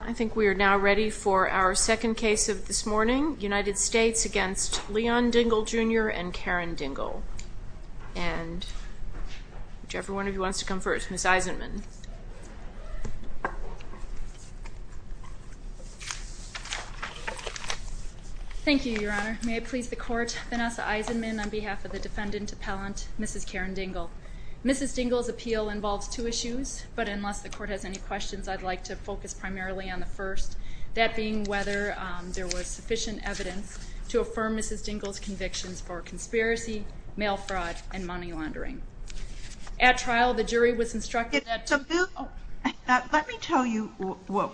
I think we are now ready for our second case of this morning, United States v. Leon Dingle, Jr. and Karen Dingle. And whichever one of you wants to come first, Ms. Eisenman. Thank you, Your Honor. May it please the Court, Vanessa Eisenman on behalf of the defendant appellant, Mrs. Karen Dingle. Mrs. Dingle's appeal involves two issues, but unless the Court has any questions, I'd like to focus primarily on the first, that being whether there was sufficient evidence to affirm Mrs. Dingle's convictions for conspiracy, mail fraud, and money laundering. At trial, the jury was instructed that... Let me tell you what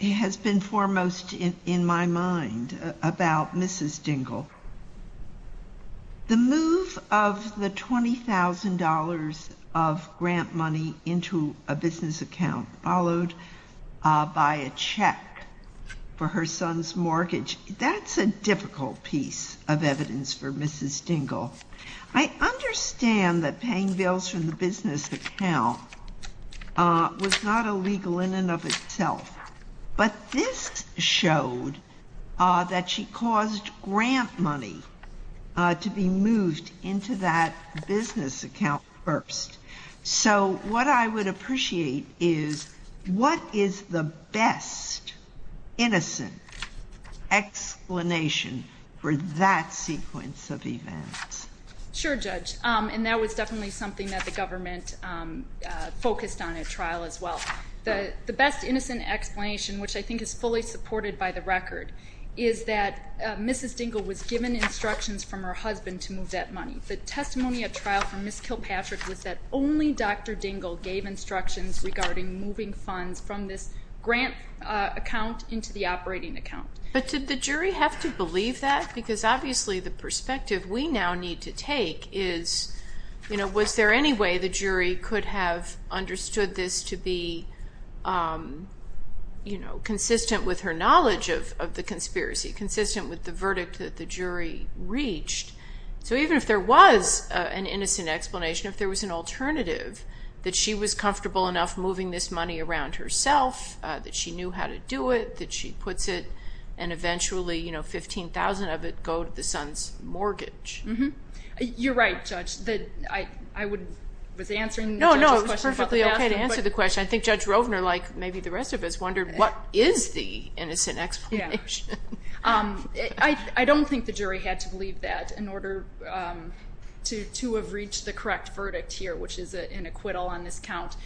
has been foremost in my mind about Mrs. Dingle. The move of the $20,000 of grant money into a business account, followed by a check for her son's mortgage. That's a difficult piece of evidence for Mrs. Dingle. I understand that paying bills from the business account was not illegal in and of itself. But this showed that she caused grant money to be moved into that business account first. So what I would appreciate is, what is the best innocent explanation for that sequence of events? Sure, Judge. And that was definitely something that the government focused on at trial as well. The best innocent explanation, which I think is fully supported by the record, is that Mrs. Dingle was given instructions from her husband to move that money. The testimony at trial from Ms. Kilpatrick was that only Dr. Dingle gave instructions regarding moving funds from this grant account into the operating account. But did the jury have to believe that? Because obviously the perspective we now need to take is, was there any way the jury could have understood this to be consistent with her knowledge of the conspiracy, consistent with the verdict that the jury reached? So even if there was an innocent explanation, if there was an alternative, that she was comfortable enough moving this money around herself, that she knew how to do it, that she puts it, and eventually 15,000 of it go to the son's mortgage. You're right, Judge. I was answering the judge's question. No, no, it was perfectly okay to answer the question. I think Judge Rovner, like maybe the rest of us, wondered, what is the innocent explanation? I don't think the jury had to believe that in order to have reached the correct verdict here, which is an acquittal on this count.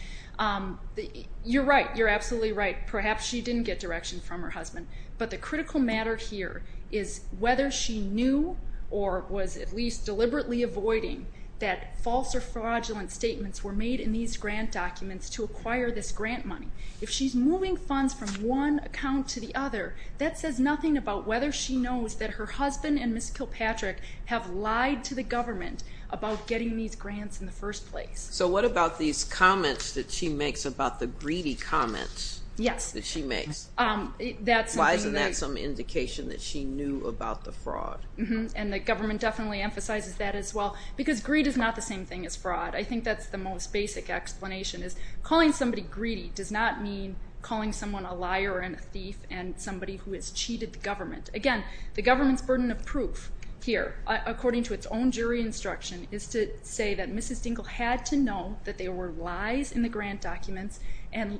You're right. You're absolutely right. Perhaps she didn't get direction from her husband. But the critical matter here is whether she knew or was at least deliberately avoiding that false or fraudulent statements were made in these grant documents to acquire this grant money. If she's moving funds from one account to the other, that says nothing about whether she knows that her husband and Ms. Kilpatrick have lied to the government about getting these grants in the first place. So what about these comments that she makes about the greedy comments that she makes? Yes. Why isn't that some indication that she knew about the fraud? And the government definitely emphasizes that as well, because greed is not the same thing as fraud. I think that's the most basic explanation is calling somebody greedy does not mean calling someone a liar and a thief and somebody who has cheated the government. Again, the government's burden of proof here, according to its own jury instruction, is to say that Mrs. Dingell had to know that there were lies in the grant documents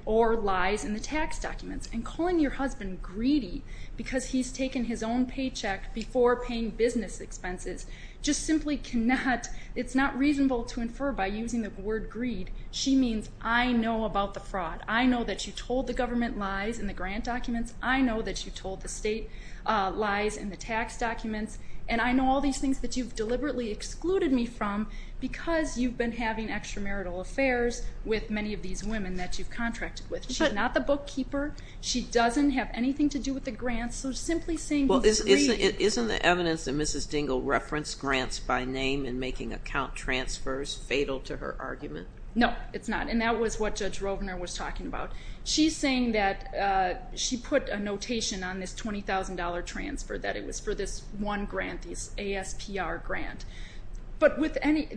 or lies in the tax documents. And calling your husband greedy because he's taken his own paycheck before paying business expenses just simply cannot, it's not reasonable to infer by using the word greed. She means I know about the fraud. I know that you told the government lies in the grant documents. I know that you told the state lies in the tax documents. And I know all these things that you've deliberately excluded me from because you've been having extramarital affairs with many of these women that you've contracted with. She's not the bookkeeper. She doesn't have anything to do with the grants. So simply saying he's greedy. Isn't the evidence that Mrs. Dingell referenced grants by name in making account transfers fatal to her argument? No, it's not. And that was what Judge Rovner was talking about. She's saying that she put a notation on this $20,000 transfer that it was for this one grant, this ASPR grant. But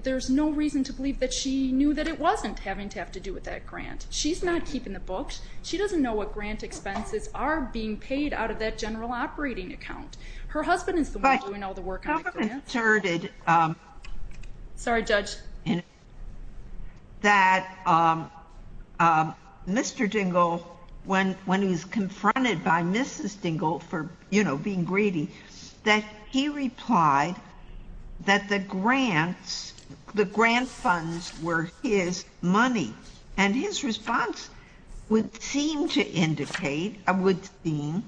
there's no reason to believe that she knew that it wasn't having to have to do with that grant. She's not keeping the books. She doesn't know what grant expenses are being paid out of that general operating account. Her husband is the one doing all the work on the grants. Sorry, Judge. That Mr. Dingell, when he was confronted by Mrs. Dingell for being greedy, that he replied that the grants, the grant funds were his money. And his response would seem to indicate, would seem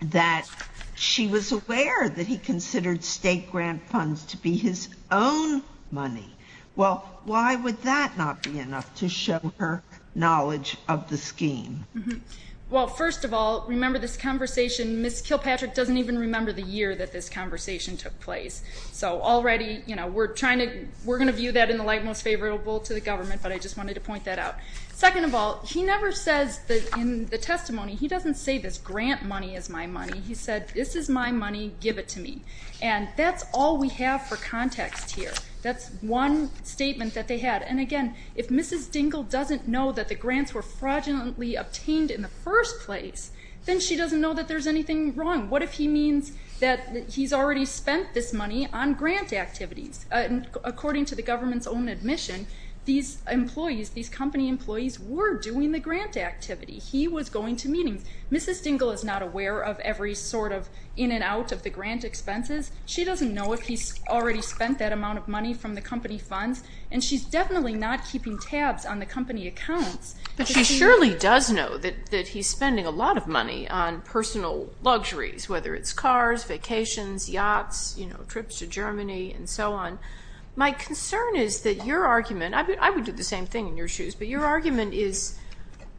that she was aware that he considered state grant funds to be his own money. Well, why would that not be enough to show her knowledge of the scheme? Well, first of all, remember this conversation. Ms. Kilpatrick doesn't even remember the year that this conversation took place. We're going to view that in the light most favorable to the government, but I just wanted to point that out. Second of all, he never says in the testimony, he doesn't say this grant money is my money. He said, this is my money. Give it to me. And that's all we have for context here. That's one statement that they had. And again, if Mrs. Dingell doesn't know that the grants were fraudulently obtained in the first place, then she doesn't know that there's anything wrong. What if he means that he's already spent this money on grant activities? According to the government's own admission, these employees, these company employees were doing the grant activity. He was going to meetings. Mrs. Dingell is not aware of every sort of in and out of the grant expenses. She doesn't know if he's already spent that amount of money from the company funds, and she's definitely not keeping tabs on the company accounts. But she surely does know that he's spending a lot of money on personal luxuries, whether it's cars, vacations, yachts, trips to Germany, and so on. My concern is that your argument, I would do the same thing in your shoes, but your argument is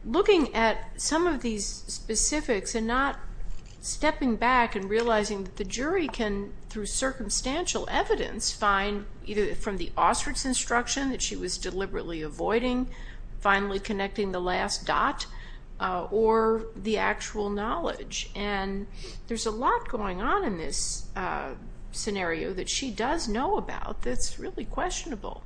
looking at some of these specifics and not stepping back and realizing that the jury can, through circumstantial evidence, find either from the ostrich instruction that she was deliberately avoiding, finally connecting the last dot, or the actual knowledge. And there's a lot going on in this scenario that she does know about that's really questionable.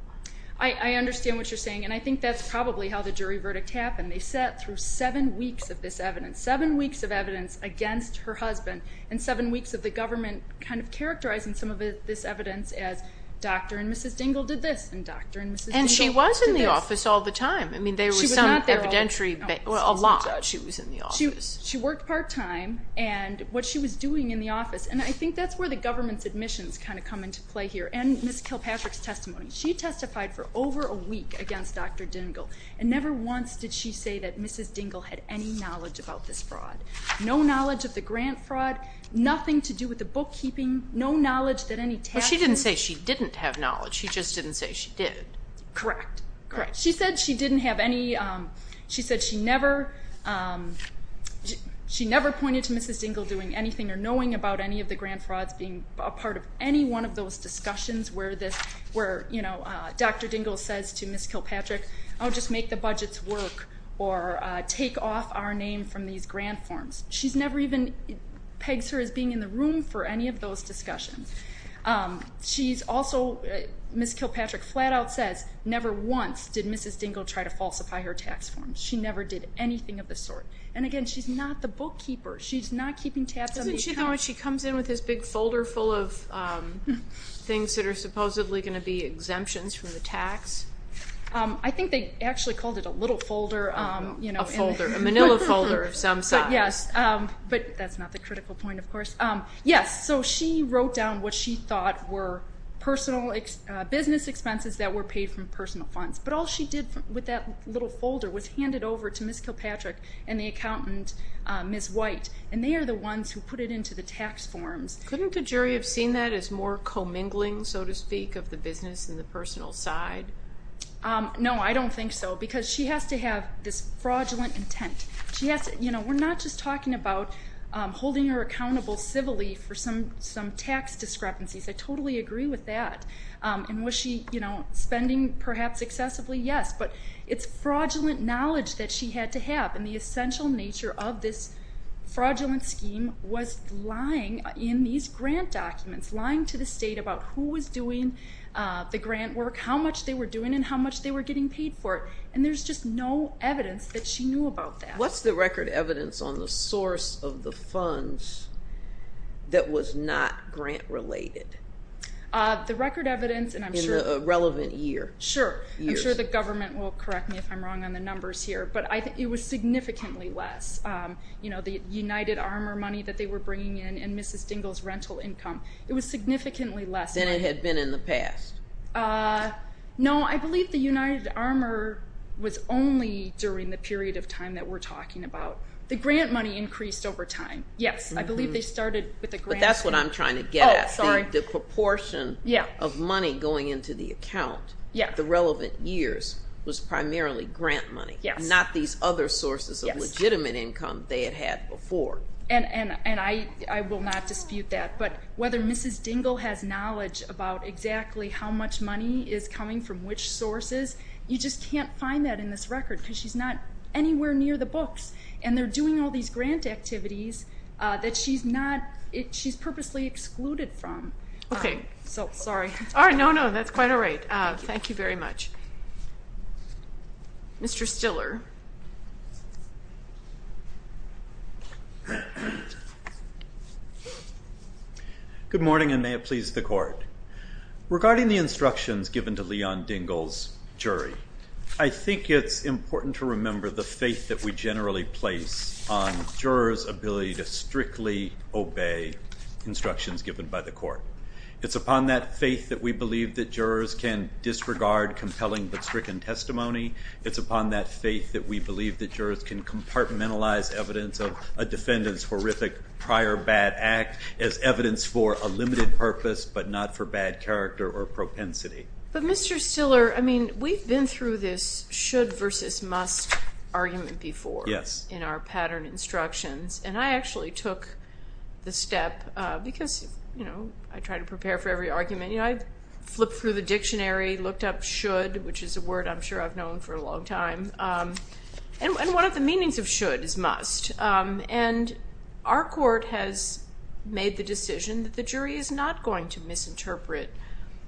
I understand what you're saying, and I think that's probably how the jury verdict happened. They sat through seven weeks of this evidence, seven weeks of evidence against her husband, and seven weeks of the government kind of characterizing some of this evidence as, Dr. and Mrs. Dingell did this, and Dr. and Mrs. Dingell did this. And she was in the office all the time. She was not there all the time. Well, a lot. She was in the office. She worked part-time, and what she was doing in the office, and I think that's where the government's admissions kind of come into play here, and Ms. Kilpatrick's testimony. She testified for over a week against Dr. Dingell, and never once did she say that Mrs. Dingell had any knowledge about this fraud. No knowledge of the grant fraud, nothing to do with the bookkeeping, no knowledge that any taxes. Well, she didn't say she didn't have knowledge. She just didn't say she did. Correct. Correct. She said she didn't have any, she said she never pointed to Mrs. Dingell doing anything or knowing about any of the grant frauds being a part of any one of those discussions where this, where, you know, Dr. Dingell says to Ms. Kilpatrick, I'll just make the budgets work or take off our name from these grant forms. She's never even pegs her as being in the room for any of those discussions. She's also, Ms. Kilpatrick flat out says, never once did Mrs. Dingell try to falsify her tax forms. She never did anything of the sort. And again, she's not the bookkeeper. She's not keeping tabs on these accounts. Doesn't she know when she comes in with this big folder full of things that are supposedly going to be exemptions from the tax? I think they actually called it a little folder, you know. A folder, a manila folder of some size. But, yes, but that's not the critical point, of course. Yes, so she wrote down what she thought were personal business expenses that were paid from personal funds. But all she did with that little folder was hand it over to Ms. Kilpatrick and the accountant, Ms. White. And they are the ones who put it into the tax forms. Couldn't the jury have seen that as more commingling, so to speak, of the business and the personal side? No, I don't think so because she has to have this fraudulent intent. She has to, you know, we're not just talking about holding her accountable civilly for some tax discrepancies. I totally agree with that. And was she, you know, spending perhaps excessively? Yes, but it's fraudulent knowledge that she had to have. And the essential nature of this fraudulent scheme was lying in these grant documents, lying to the state about who was doing the grant work, how much they were doing, and how much they were getting paid for it. And there's just no evidence that she knew about that. What's the record evidence on the source of the funds that was not grant-related? The record evidence, and I'm sure the government will correct me if I'm wrong on the numbers here, but it was significantly less. You know, the United Armor money that they were bringing in and Mrs. Dingell's rental income, it was significantly less. Than it had been in the past? No, I believe the United Armor was only during the period of time that we're talking about. The grant money increased over time. Yes, I believe they started with the grant. That's what I'm trying to get at. Oh, sorry. The proportion of money going into the account the relevant years was primarily grant money, not these other sources of legitimate income they had had before. And I will not dispute that. But whether Mrs. Dingell has knowledge about exactly how much money is coming from which sources, you just can't find that in this record because she's not anywhere near the books. And they're doing all these grant activities that she's purposely excluded from. Okay. Sorry. No, no, that's quite all right. Thank you very much. Mr. Stiller. Good morning, and may it please the Court. Regarding the instructions given to Leon Dingell's jury, I think it's important to remember the faith that we generally place on jurors' ability to strictly obey instructions given by the Court. It's upon that faith that we believe that jurors can disregard compelling but stricken testimony. It's upon that faith that we believe that jurors can compartmentalize evidence of a defendant's horrific prior bad act as evidence for a limited purpose but not for bad character or propensity. But, Mr. Stiller, I mean, we've been through this should versus must argument before. Yes. In our pattern instructions. And I actually took the step because, you know, I try to prepare for every argument. You know, I flipped through the dictionary, looked up should, which is a word I'm sure I've known for a long time. And one of the meanings of should is must. And our court has made the decision that the jury is not going to misinterpret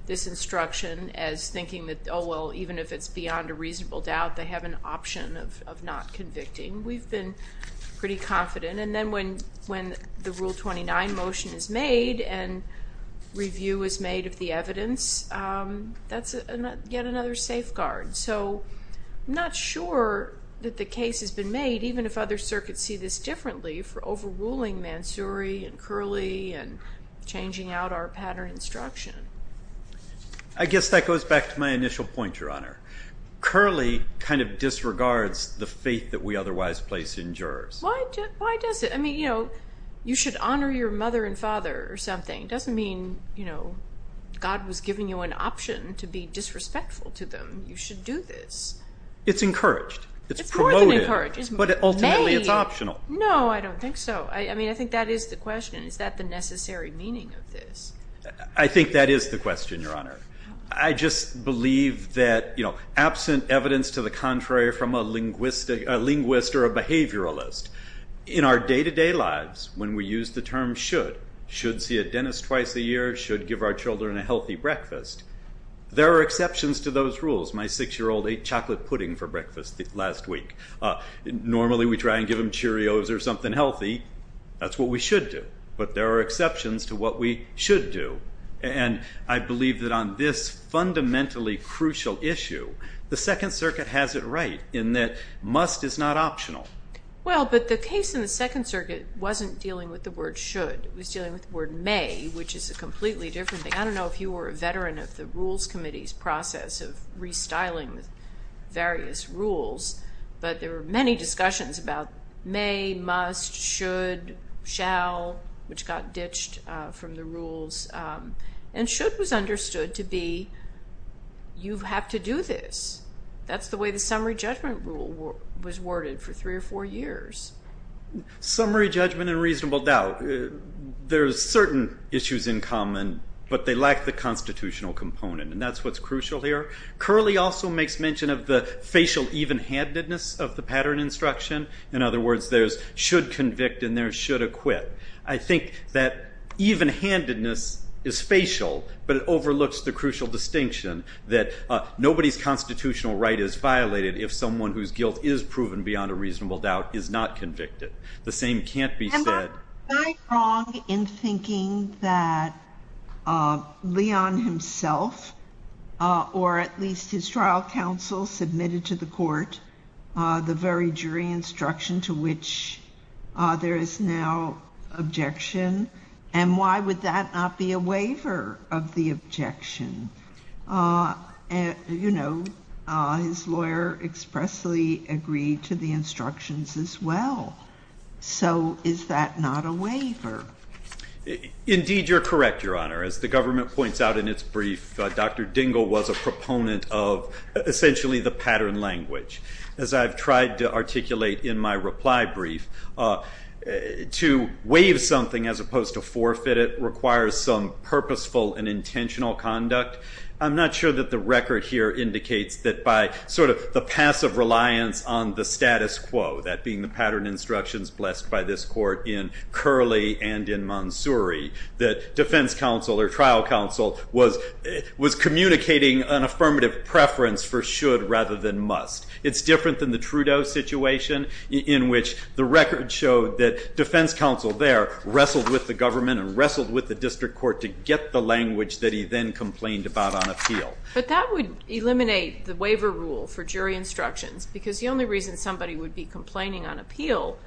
this instruction as thinking that, oh, well, even if it's beyond a reasonable doubt, they have an option of not convicting. We've been pretty confident. And then when the Rule 29 motion is made and review is made of the evidence, that's yet another safeguard. So I'm not sure that the case has been made, even if other circuits see this differently, for overruling Mansouri and Curley and changing out our pattern instruction. I guess that goes back to my initial point, Your Honor. Curley kind of disregards the faith that we otherwise place in jurors. Why does it? I mean, you know, you should honor your mother and father or something. It doesn't mean, you know, God was giving you an option to be disrespectful to them. You should do this. It's encouraged. It's more than encouraged. But ultimately it's optional. No, I don't think so. I mean, I think that is the question. Is that the necessary meaning of this? I think that is the question, Your Honor. I just believe that, you know, absent evidence to the contrary from a linguist or a behavioralist, in our day-to-day lives when we use the term should, should see a dentist twice a year, should give our children a healthy breakfast, there are exceptions to those rules. My six-year-old ate chocolate pudding for breakfast last week. Normally we try and give him Cheerios or something healthy. That's what we should do. But there are exceptions to what we should do. And I believe that on this fundamentally crucial issue, the Second Circuit has it right in that must is not optional. Well, but the case in the Second Circuit wasn't dealing with the word should. It was dealing with the word may, which is a completely different thing. I don't know if you were a veteran of the Rules Committee's process of restyling various rules, but there were many discussions about may, must, should, shall, which got ditched from the rules. And should was understood to be you have to do this. That's the way the summary judgment rule was worded for three or four years. Summary judgment and reasonable doubt. There's certain issues in common, but they lack the constitutional component, and that's what's crucial here. Curley also makes mention of the facial evenhandedness of the pattern instruction. In other words, there's should convict and there's should acquit. I think that evenhandedness is facial, but it overlooks the crucial distinction that nobody's constitutional right is violated if someone whose guilt is proven beyond a reasonable doubt is not convicted. The same can't be said. Am I wrong in thinking that Leon himself or at least his trial counsel submitted to the court the very jury instruction to which there is now objection, and why would that not be a waiver of the objection? You know, his lawyer expressly agreed to the instructions as well. So is that not a waiver? Indeed, you're correct, Your Honor. As the government points out in its brief, Dr. Dingell was a proponent of essentially the pattern language. As I've tried to articulate in my reply brief, to waive something as opposed to forfeit it requires some purposeful and intentional conduct. I'm not sure that the record here indicates that by sort of the passive reliance on the status quo, that being the pattern instructions blessed by this court in Curley and in Mansouri, that defense counsel or trial counsel was communicating an affirmative preference for should rather than must. It's different than the Trudeau situation in which the record showed that defense counsel there wrestled with the government and wrestled with the district court to get the language that he then complained about on appeal. But that would eliminate the waiver rule for jury instructions, because the only reason somebody would be complaining on appeal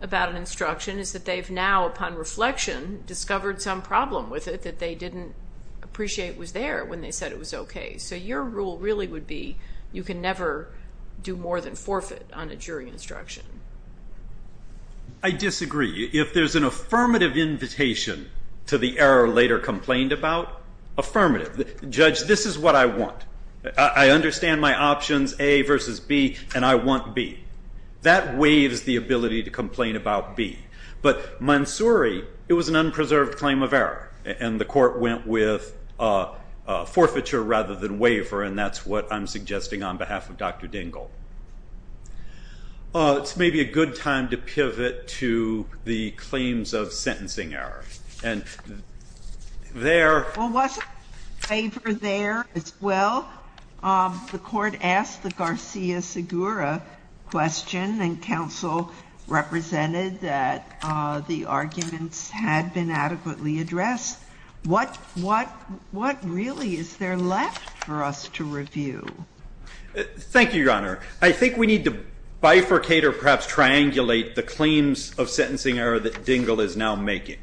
about an instruction is that they've now, upon reflection, discovered some problem with it that they didn't appreciate was there when they said it was okay. So your rule really would be you can never do more than forfeit on a jury instruction. I disagree. If there's an affirmative invitation to the error later complained about, affirmative. Judge, this is what I want. I understand my options, A versus B, and I want B. That waives the ability to complain about B. But Mansouri, it was an unpreserved claim of error, and the court went with forfeiture rather than waiver, and that's what I'm suggesting on behalf of Dr. Dingell. It's maybe a good time to pivot to the claims of sentencing error, and there- Well, wasn't waiver there as well? The court asked the Garcia-Segura question, and counsel represented that the arguments had been adequately addressed. Thank you, Your Honor. I think we need to bifurcate or perhaps triangulate the claims of sentencing error that Dingell is now making.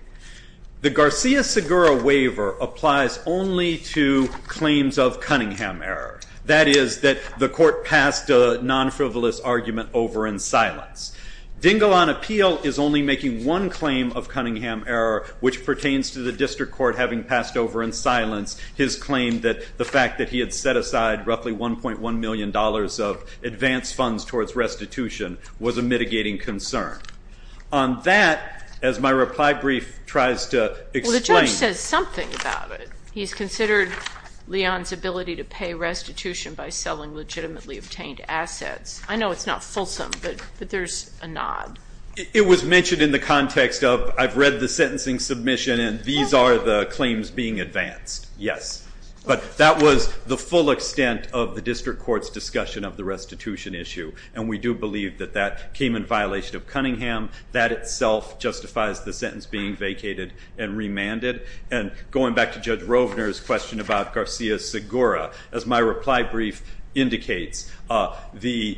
The Garcia-Segura waiver applies only to claims of Cunningham error. That is, that the court passed a non-frivolous argument over in silence. Dingell on appeal is only making one claim of Cunningham error, which pertains to the district court having passed over in silence his claim that the fact that he had set aside roughly $1.1 million of advanced funds towards restitution was a mitigating concern. On that, as my reply brief tries to explain- Well, the judge says something about it. He's considered Leon's ability to pay restitution by selling legitimately obtained assets. I know it's not fulsome, but there's a nod. It was mentioned in the context of I've read the sentencing submission, and these are the claims being advanced, yes. But that was the full extent of the district court's discussion of the restitution issue, and we do believe that that came in violation of Cunningham. That itself justifies the sentence being vacated and remanded. And going back to Judge Rovner's question about Garcia-Segura, as my reply brief indicates, the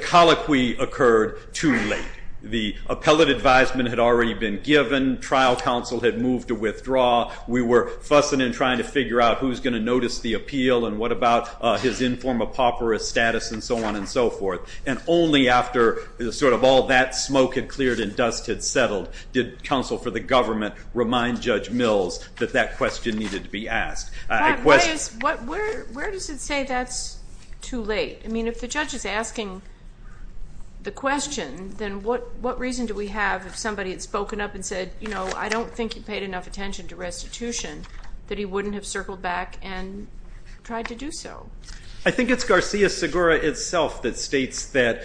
colloquy occurred too late. The appellate advisement had already been given. Trial counsel had moved to withdraw. We were fussing and trying to figure out who's going to notice the appeal and what about his inform-a-pauperous status and so on and so forth. And only after sort of all that smoke had cleared and dust had settled did counsel for the government remind Judge Mills that that question needed to be asked. Where does it say that's too late? I mean, if the judge is asking the question, then what reason do we have if somebody had spoken up and said, you know, I don't think you paid enough attention to restitution, that he wouldn't have circled back and tried to do so? I think it's Garcia-Segura itself that states that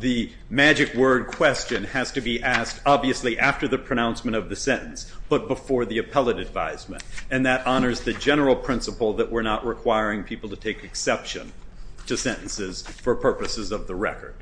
the magic word question has to be asked, obviously after the pronouncement of the sentence, but before the appellate advisement. And that honors the general principle that we're not requiring people to take exception to sentences for purposes of the record.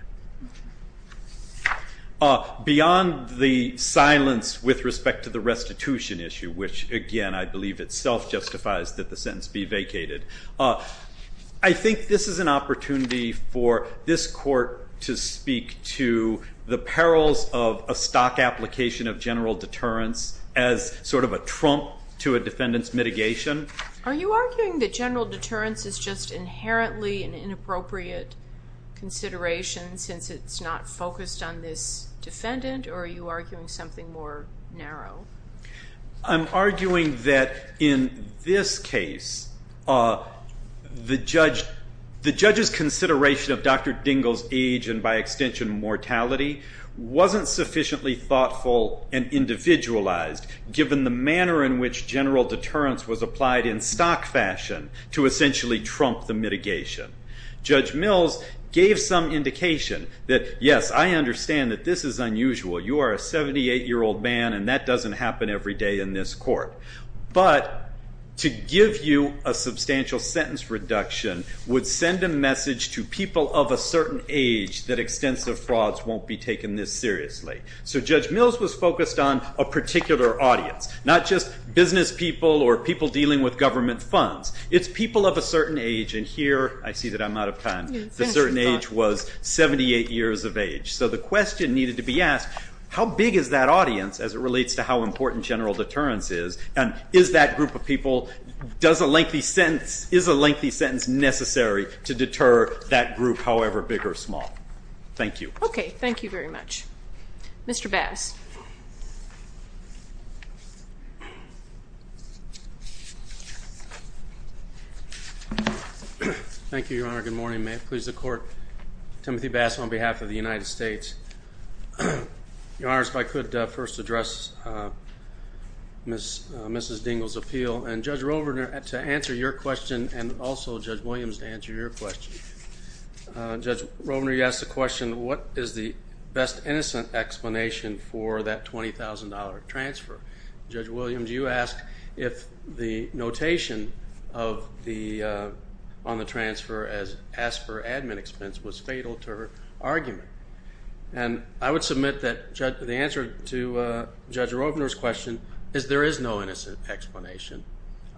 Beyond the silence with respect to the restitution issue, which, again, I believe itself justifies that the sentence be vacated, I think this is an opportunity for this court to speak to the perils of a stock application of general deterrence as sort of a trump to a defendant's mitigation. Are you arguing that general deterrence is just inherently an inappropriate consideration since it's not focused on this defendant, or are you arguing something more narrow? I'm arguing that in this case, the judge's consideration of Dr. Dingell's age and, by extension, mortality, wasn't sufficiently thoughtful and individualized, given the manner in which general deterrence was applied in stock fashion to essentially trump the mitigation. Judge Mills gave some indication that, yes, I understand that this is unusual. You are a 78-year-old man, and that doesn't happen every day in this court. But to give you a substantial sentence reduction would send a message to people of a certain age that extensive frauds won't be taken this seriously. So Judge Mills was focused on a particular audience, not just business people or people dealing with government funds. It's people of a certain age, and here I see that I'm out of time. The certain age was 78 years of age. So the question needed to be asked, how big is that audience as it relates to how important general deterrence is, and is that group of people, is a lengthy sentence necessary to deter that group, however big or small? Thank you. Okay, thank you very much. Mr. Bass. Thank you, Your Honor. Good morning. May it please the Court. Timothy Bass on behalf of the United States. Your Honor, if I could first address Mrs. Dingell's appeal, and Judge Rovner to answer your question and also Judge Williams to answer your question. Judge Rovner, you asked the question, what is the best innocent explanation for that $20,000 transfer? Judge Williams, you asked if the notation on the transfer as asked for admin expense was fatal to her argument. And I would submit that the answer to Judge Rovner's question is there is no innocent explanation,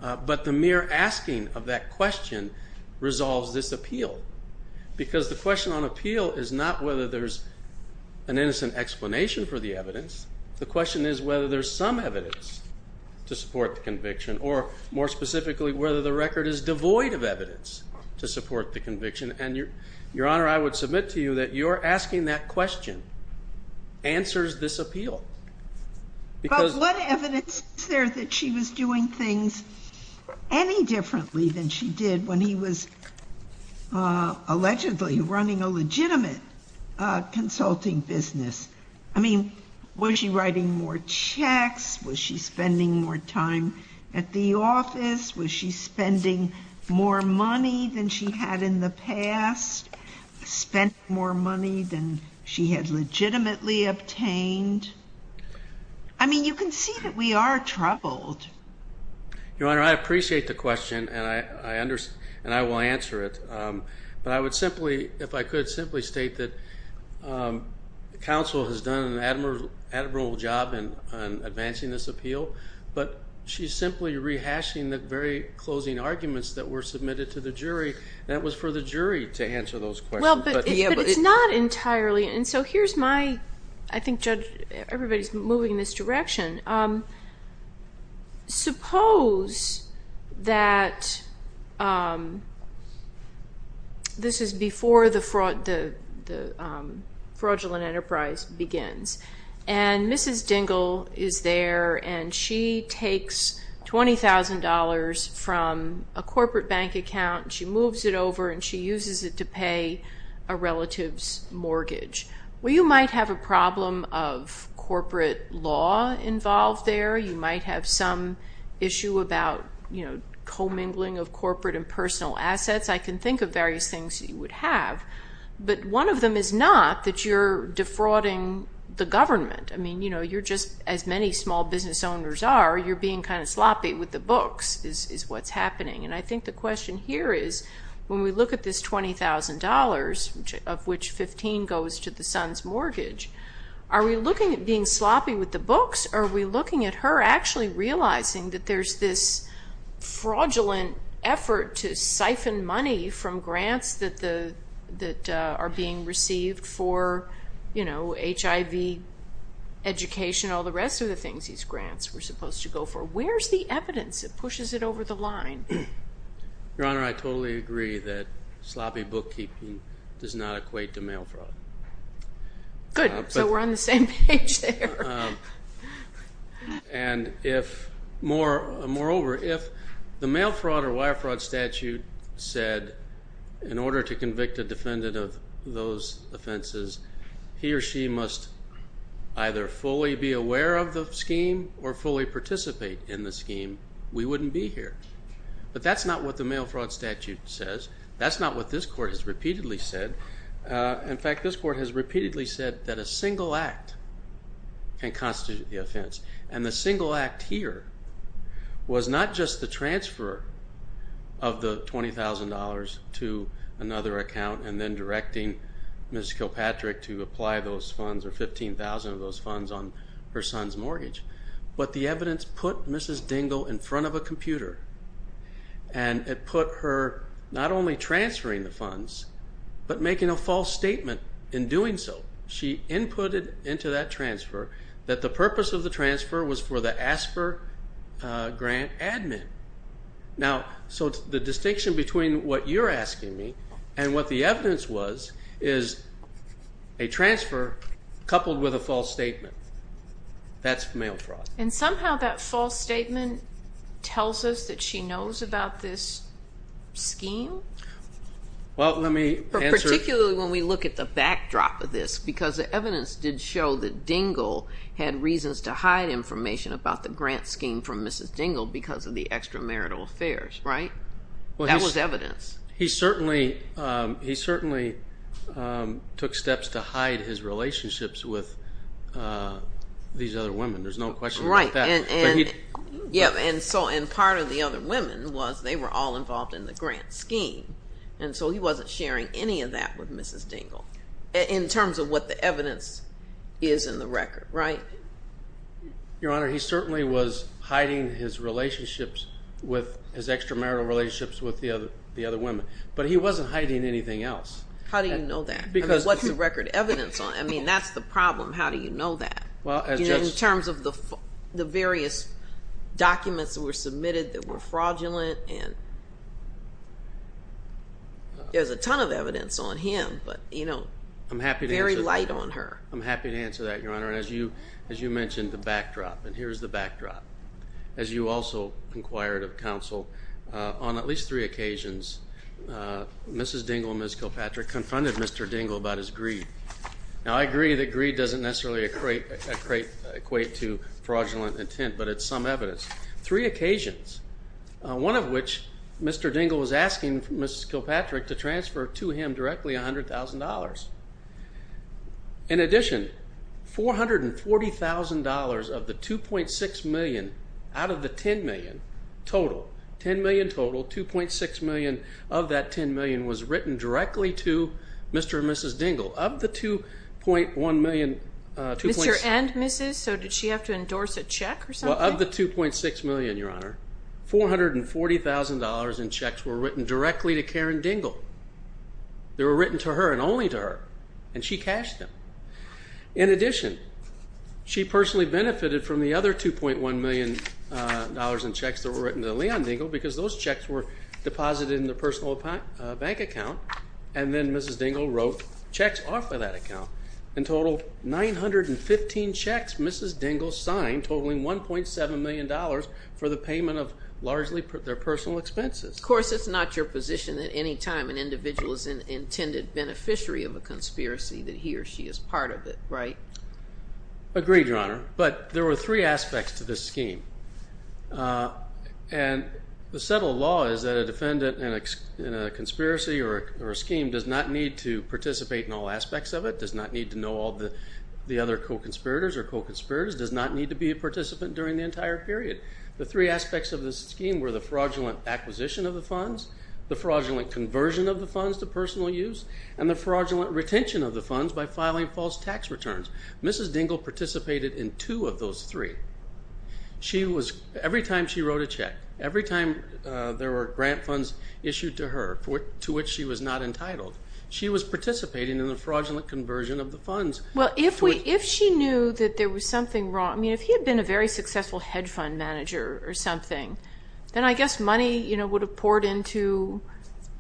but the mere asking of that question resolves this appeal, because the question on appeal is not whether there's an innocent explanation for the evidence. The question is whether there's some evidence to support the conviction, or more specifically whether the record is devoid of evidence to support the conviction. And, Your Honor, I would submit to you that your asking that question answers this appeal. But what evidence is there that she was doing things any differently than she did when he was allegedly running a legitimate consulting business? I mean, was she writing more checks? Was she spending more time at the office? Was she spending more money than she had in the past? Spent more money than she had legitimately obtained? I mean, you can see that we are troubled. Your Honor, I appreciate the question, and I will answer it. But I would simply, if I could, simply state that counsel has done an admirable job in advancing this appeal, but she's simply rehashing the very closing arguments that were submitted to the jury, and it was for the jury to answer those questions. Well, but it's not entirely. And so here's my, I think, Judge, everybody's moving in this direction. Suppose that this is before the fraudulent enterprise begins, and Mrs. Dingell is there, and she takes $20,000 from a corporate bank account, and she moves it over, and she uses it to pay a relative's mortgage. Well, you might have a problem of corporate law involved there. You might have some issue about, you know, commingling of corporate and personal assets. I can think of various things that you would have. But one of them is not that you're defrauding the government. I mean, you know, you're just, as many small business owners are, you're being kind of sloppy with the books is what's happening. And I think the question here is, when we look at this $20,000, of which $15,000 goes to the son's mortgage, are we looking at being sloppy with the books, or are we looking at her actually realizing that there's this fraudulent effort to siphon money from grants that are being received for, you know, HIV education, all the rest of the things these grants were supposed to go for? Where's the evidence that pushes it over the line? Your Honor, I totally agree that sloppy bookkeeping does not equate to mail fraud. Good. So we're on the same page there. Moreover, if the mail fraud or wire fraud statute said, in order to convict a defendant of those offenses, he or she must either fully be aware of the scheme or fully participate in the scheme, we wouldn't be here. But that's not what the mail fraud statute says. That's not what this Court has repeatedly said. In fact, this Court has repeatedly said that a single act can constitute the offense. And the single act here was not just the transfer of the $20,000 to another account and then directing Ms. Kilpatrick to apply those funds or $15,000 of those funds on her son's mortgage. But the evidence put Mrs. Dingell in front of a computer, and it put her not only transferring the funds but making a false statement in doing so. She inputted into that transfer that the purpose of the transfer was for the ASPR grant admin. Now, so the distinction between what you're asking me and what the evidence was is a transfer coupled with a false statement. That's mail fraud. And somehow that false statement tells us that she knows about this scheme? Well, let me answer. Particularly when we look at the backdrop of this, because the evidence did show that Dingell had reasons to hide information about the grant scheme from Mrs. Dingell because of the extramarital affairs, right? That was evidence. He certainly took steps to hide his relationships with these other women. There's no question about that. Yeah, and part of the other women was they were all involved in the grant scheme, and so he wasn't sharing any of that with Mrs. Dingell in terms of what the evidence is in the record, right? Your Honor, he certainly was hiding his extramarital relationships with the other women, but he wasn't hiding anything else. How do you know that? I mean, what's the record evidence on? I mean, that's the problem. How do you know that in terms of the various documents that were submitted that were fraudulent? And there's a ton of evidence on him, but, you know, very light on her. I'm happy to answer that, Your Honor. As you mentioned, the backdrop, and here's the backdrop. As you also inquired of counsel, on at least three occasions, Mrs. Dingell and Ms. Kilpatrick confronted Mr. Dingell about his greed. Now, I agree that greed doesn't necessarily equate to fraudulent intent, but it's some evidence. Three occasions, one of which Mr. Dingell was asking Ms. Kilpatrick to transfer to him directly $100,000. In addition, $440,000 of the $2.6 million out of the $10 million total, $10 million total, $2.6 million of that $10 million was written directly to Mr. and Mrs. Dingell. Of the $2.1 million, $2.6 million. Mr. and Mrs., so did she have to endorse a check or something? Well, of the $2.6 million, Your Honor, $440,000 in checks were written directly to Karen Dingell. They were written to her and only to her, and she cashed them. In addition, she personally benefited from the other $2.1 million in checks that were written to Leon Dingell because those checks were deposited in the personal bank account, and then Mrs. Dingell wrote checks off of that account. In total, 915 checks Mrs. Dingell signed, totaling $1.7 million for the payment of largely their personal expenses. Of course, it's not your position that any time an individual is an intended beneficiary of a conspiracy that he or she is part of it, right? Agreed, Your Honor, but there were three aspects to this scheme, and the settled law is that a defendant in a conspiracy or a scheme does not need to participate in all aspects of it, does not need to know all the other co-conspirators or co-conspirators, does not need to be a participant during the entire period. The three aspects of this scheme were the fraudulent acquisition of the funds, the fraudulent conversion of the funds to personal use, and the fraudulent retention of the funds by filing false tax returns. Mrs. Dingell participated in two of those three. Every time she wrote a check, every time there were grant funds issued to her to which she was not entitled, she was participating in the fraudulent conversion of the funds. Well, if she knew that there was something wrong, I mean, if he had been a very successful hedge fund manager or something, then I guess money would have poured into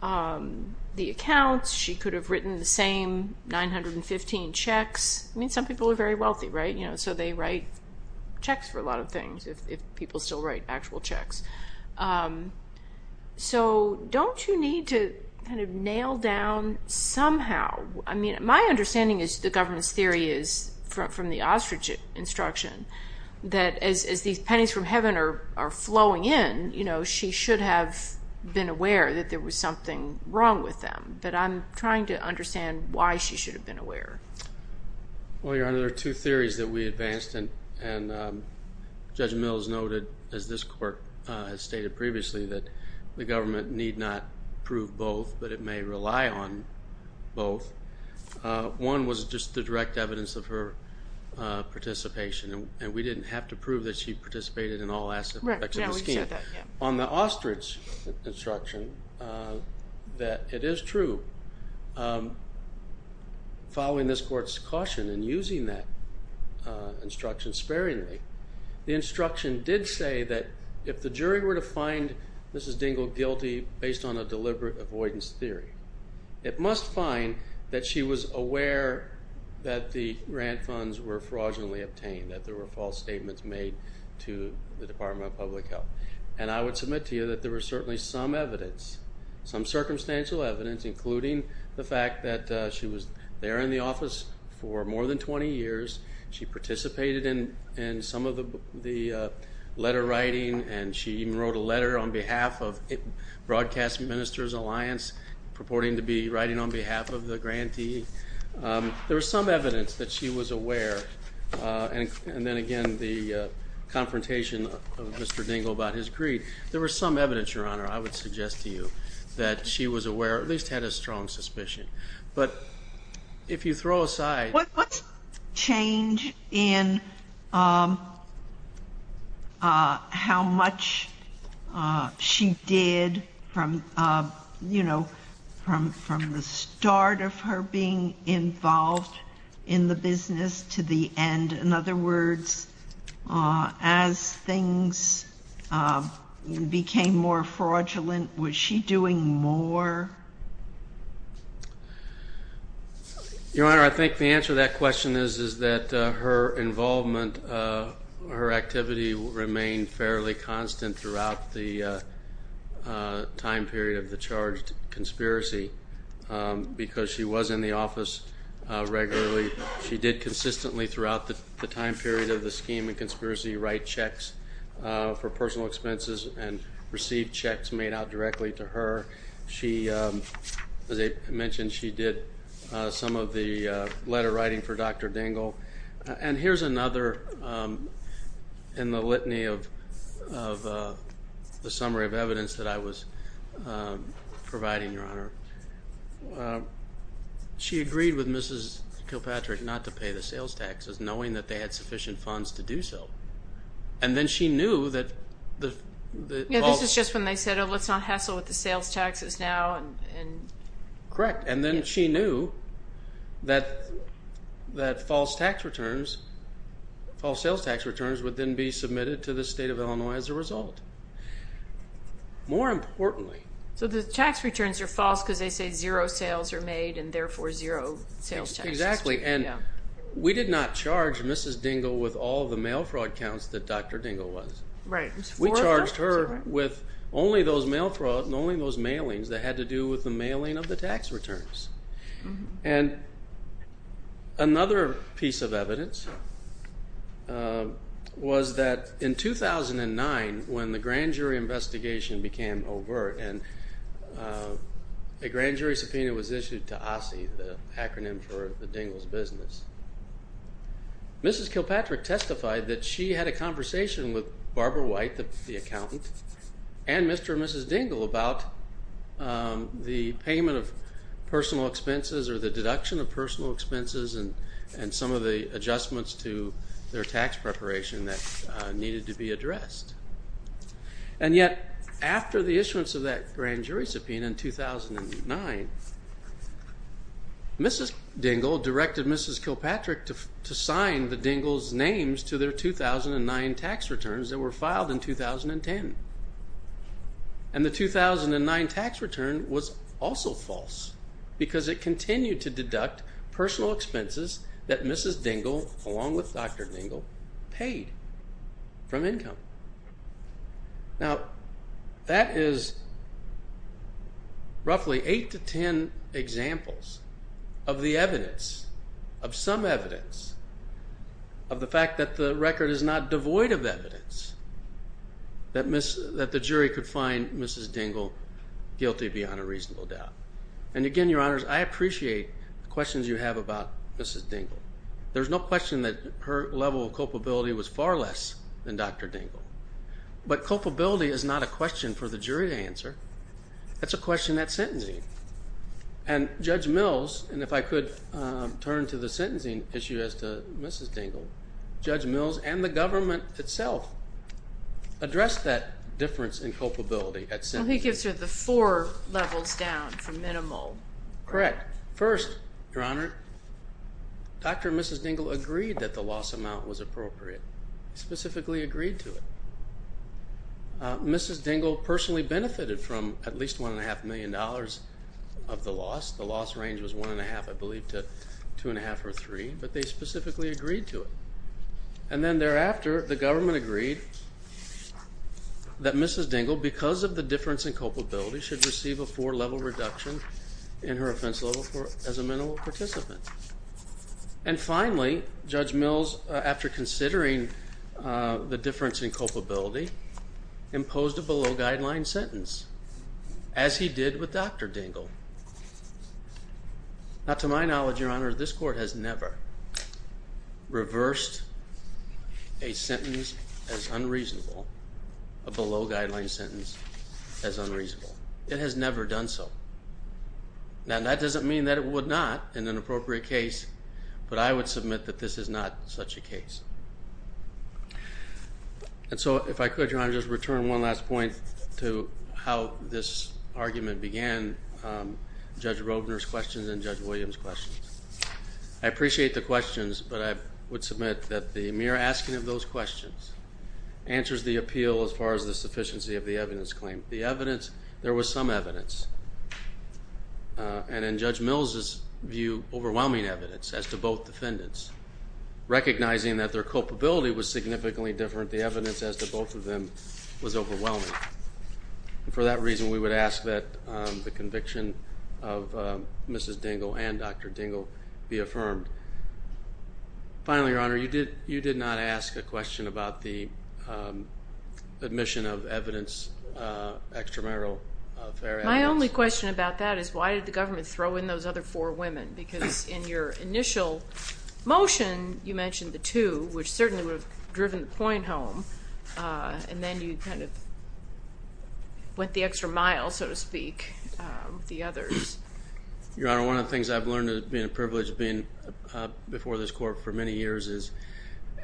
the accounts. She could have written the same 915 checks. I mean, some people are very wealthy, right? So they write checks for a lot of things if people still write actual checks. So don't you need to kind of nail down somehow, I mean, my understanding is the government's theory is from the ostrich instruction that as these pennies from heaven are flowing in, you know, she should have been aware that there was something wrong with them. But I'm trying to understand why she should have been aware. Well, Your Honor, there are two theories that we advanced, and Judge Mills noted, as this court has stated previously, that the government need not prove both, but it may rely on both. One was just the direct evidence of her participation, and we didn't have to prove that she participated in all aspects of the scheme. On the ostrich instruction, it is true. Following this court's caution and using that instruction sparingly, the instruction did say that if the jury were to find Mrs. Dingell guilty based on a deliberate avoidance theory, it must find that she was aware that the grant funds were fraudulently obtained, that there were false statements made to the Department of Public Health. And I would submit to you that there was certainly some evidence, some circumstantial evidence, including the fact that she was there in the office for more than 20 years. She participated in some of the letter writing, and she even wrote a letter on behalf of Broadcast Ministers Alliance purporting to be writing on behalf of the grantee. There was some evidence that she was aware, and then again the confrontation of Mr. Dingell about his greed. There was some evidence, Your Honor, I would suggest to you, that she was aware or at least had a strong suspicion. But if you throw aside. What's the change in how much she did from, you know, from the start of her being involved in the business to the end? In other words, as things became more fraudulent, was she doing more? Your Honor, I think the answer to that question is that her involvement, her activity remained fairly constant throughout the time period of the charged conspiracy because she was in the office regularly. She did consistently throughout the time period of the scheme and conspiracy write checks for personal expenses and receive checks made out directly to her. She, as I mentioned, she did some of the letter writing for Dr. Dingell. And here's another in the litany of the summary of evidence that I was providing, Your Honor. She agreed with Mrs. Kilpatrick not to pay the sales taxes, knowing that they had sufficient funds to do so. And then she knew that the false. Yeah, this is just when they said, oh, let's not hassle with the sales taxes now. Correct. And then she knew that false tax returns, false sales tax returns, would then be submitted to the State of Illinois as a result. More importantly. So the tax returns are false because they say zero sales are made and therefore zero sales taxes. Exactly. And we did not charge Mrs. Dingell with all the mail fraud counts that Dr. Dingell was. Right. We charged her with only those mail fraud and only those mailings that had to do with the mailing of the tax returns. And another piece of evidence was that in 2009, when the grand jury investigation became overt and a grand jury subpoena was issued to OSSI, the acronym for the Dingell's business, Mrs. Kilpatrick testified that she had a conversation with Barbara White, the accountant, and Mr. and Mrs. Dingell about the payment of personal expenses or the deduction of personal expenses and some of the adjustments to their tax preparation that needed to be addressed. And yet after the issuance of that grand jury subpoena in 2009, Mrs. Dingell directed Mrs. Kilpatrick to sign the Dingell's names to their 2009 tax returns that were filed in 2010. And the 2009 tax return was also false because it continued to deduct personal expenses that Mrs. Dingell, along with Dr. Dingell, paid from income. Now, that is roughly eight to ten examples of the evidence, of some evidence of the fact that the record is not devoid of evidence that the jury could find Mrs. Dingell guilty beyond a reasonable doubt. And again, Your Honors, I appreciate the questions you have about Mrs. Dingell. There's no question that her level of culpability was far less than Dr. Dingell. But culpability is not a question for the jury to answer. That's a question at sentencing. And Judge Mills, and if I could turn to the sentencing issue as to Mrs. Dingell, Judge Mills and the government itself addressed that difference in culpability at sentencing. So he gives her the four levels down from minimal. Correct. First, Your Honor, Dr. and Mrs. Dingell agreed that the loss amount was appropriate, specifically agreed to it. Mrs. Dingell personally benefited from at least $1.5 million of the loss. The loss range was 1.5, I believe, to 2.5 or 3, but they specifically agreed to it. And then thereafter, the government agreed that Mrs. Dingell, because of the difference in culpability, should receive a four-level reduction in her offense level as a minimal participant. And finally, Judge Mills, after considering the difference in culpability, imposed a below-guideline sentence, as he did with Dr. Dingell. Now, to my knowledge, Your Honor, this Court has never reversed a sentence as unreasonable, a below-guideline sentence as unreasonable. It has never done so. Now, that doesn't mean that it would not in an appropriate case, but I would submit that this is not such a case. And so if I could, Your Honor, just return one last point to how this argument began, Judge Rodner's questions and Judge Williams' questions. I appreciate the questions, but I would submit that the mere asking of those questions answers the appeal as far as the sufficiency of the evidence claim. The evidence, there was some evidence, and in Judge Mills' view, overwhelming evidence, as to both defendants. Recognizing that their culpability was significantly different, the evidence as to both of them was overwhelming. For that reason, we would ask that the conviction of Mrs. Dingell and Dr. Dingell be affirmed. Finally, Your Honor, you did not ask a question about the admission of evidence, extramarital affair evidence. My only question about that is why did the government throw in those other four women? Because in your initial motion, you mentioned the two, which certainly would have driven the point home, and then you kind of went the extra mile, so to speak, with the others. Your Honor, one of the things I've learned being privileged before this court for many years is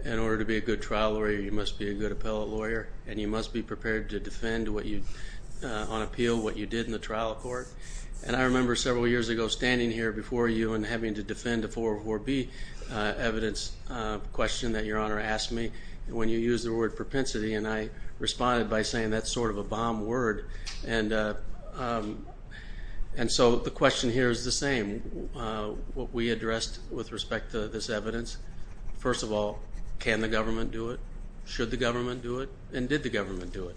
in order to be a good trial lawyer, you must be a good appellate lawyer, and you must be prepared to defend on appeal what you did in the trial court. And I remember several years ago standing here before you and having to defend a 404B evidence question that Your Honor asked me. And when you used the word propensity, and I responded by saying that's sort of a bomb word. And so the question here is the same. What we addressed with respect to this evidence, first of all, can the government do it? Should the government do it? And did the government do it?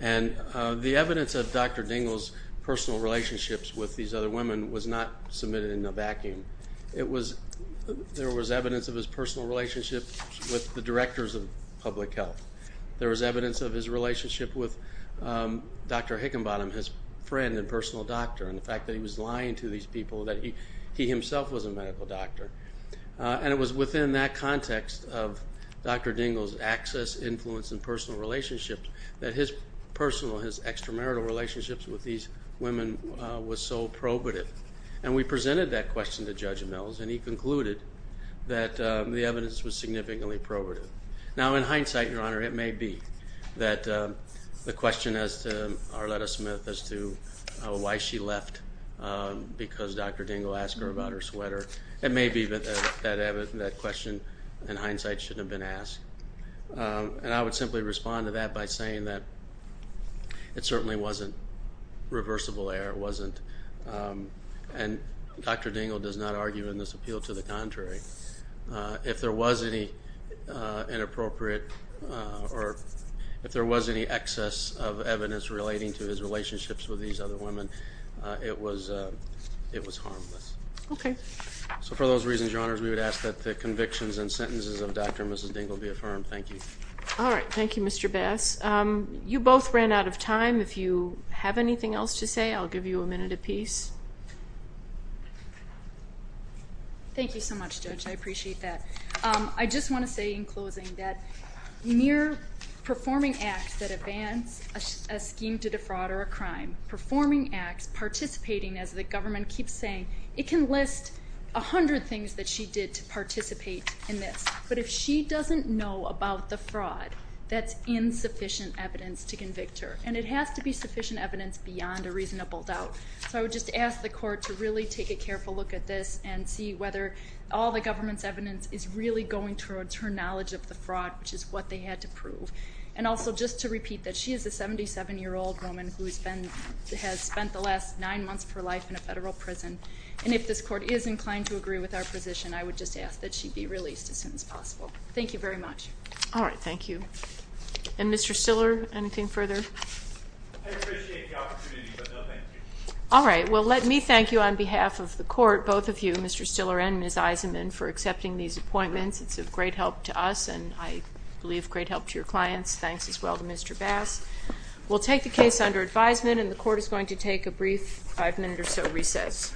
And the evidence of Dr. Dingell's personal relationships with these other women was not submitted in a vacuum. There was evidence of his personal relationships with the directors of public health. There was evidence of his relationship with Dr. Hickenbottom, his friend and personal doctor, and the fact that he was lying to these people that he himself was a medical doctor. And it was within that context of Dr. Dingell's access, influence, and personal relationships that his personal, his extramarital relationships with these women was so probative. And we presented that question to Judge Mills, and he concluded that the evidence was significantly probative. Now, in hindsight, Your Honor, it may be that the question as to Arletta Smith, as to why she left because Dr. Dingell asked her about her sweater, it may be that that question, in hindsight, shouldn't have been asked. And I would simply respond to that by saying that it certainly wasn't reversible error. It certainly wasn't. And Dr. Dingell does not argue in this appeal to the contrary. If there was any inappropriate or if there was any excess of evidence relating to his relationships with these other women, it was harmless. Okay. So for those reasons, Your Honors, we would ask that the convictions and sentences of Dr. and Mrs. Dingell be affirmed. Thank you. All right. Thank you, Mr. Bass. You both ran out of time. If you have anything else to say, I'll give you a minute apiece. Thank you so much, Judge. I appreciate that. I just want to say, in closing, that mere performing acts that advance a scheme to defraud or a crime, performing acts, participating, as the government keeps saying, it can list 100 things that she did to participate in this. But if she doesn't know about the fraud, that's insufficient evidence to convict her. And it has to be sufficient evidence beyond a reasonable doubt. So I would just ask the Court to really take a careful look at this and see whether all the government's evidence is really going towards her knowledge of the fraud, which is what they had to prove. And also just to repeat that she is a 77-year-old woman who has spent the last nine months of her life in a federal prison. And if this Court is inclined to agree with our position, I would just ask that she be released as soon as possible. Thank you very much. All right. Thank you. And Mr. Stiller, anything further? I appreciate the opportunity, but no thank you. All right. Well, let me thank you on behalf of the Court, both of you, Mr. Stiller and Ms. Eisenman, for accepting these appointments. It's of great help to us and, I believe, great help to your clients. Thanks as well to Mr. Bass. We'll take the case under advisement, and the Court is going to take a brief five-minute or so recess.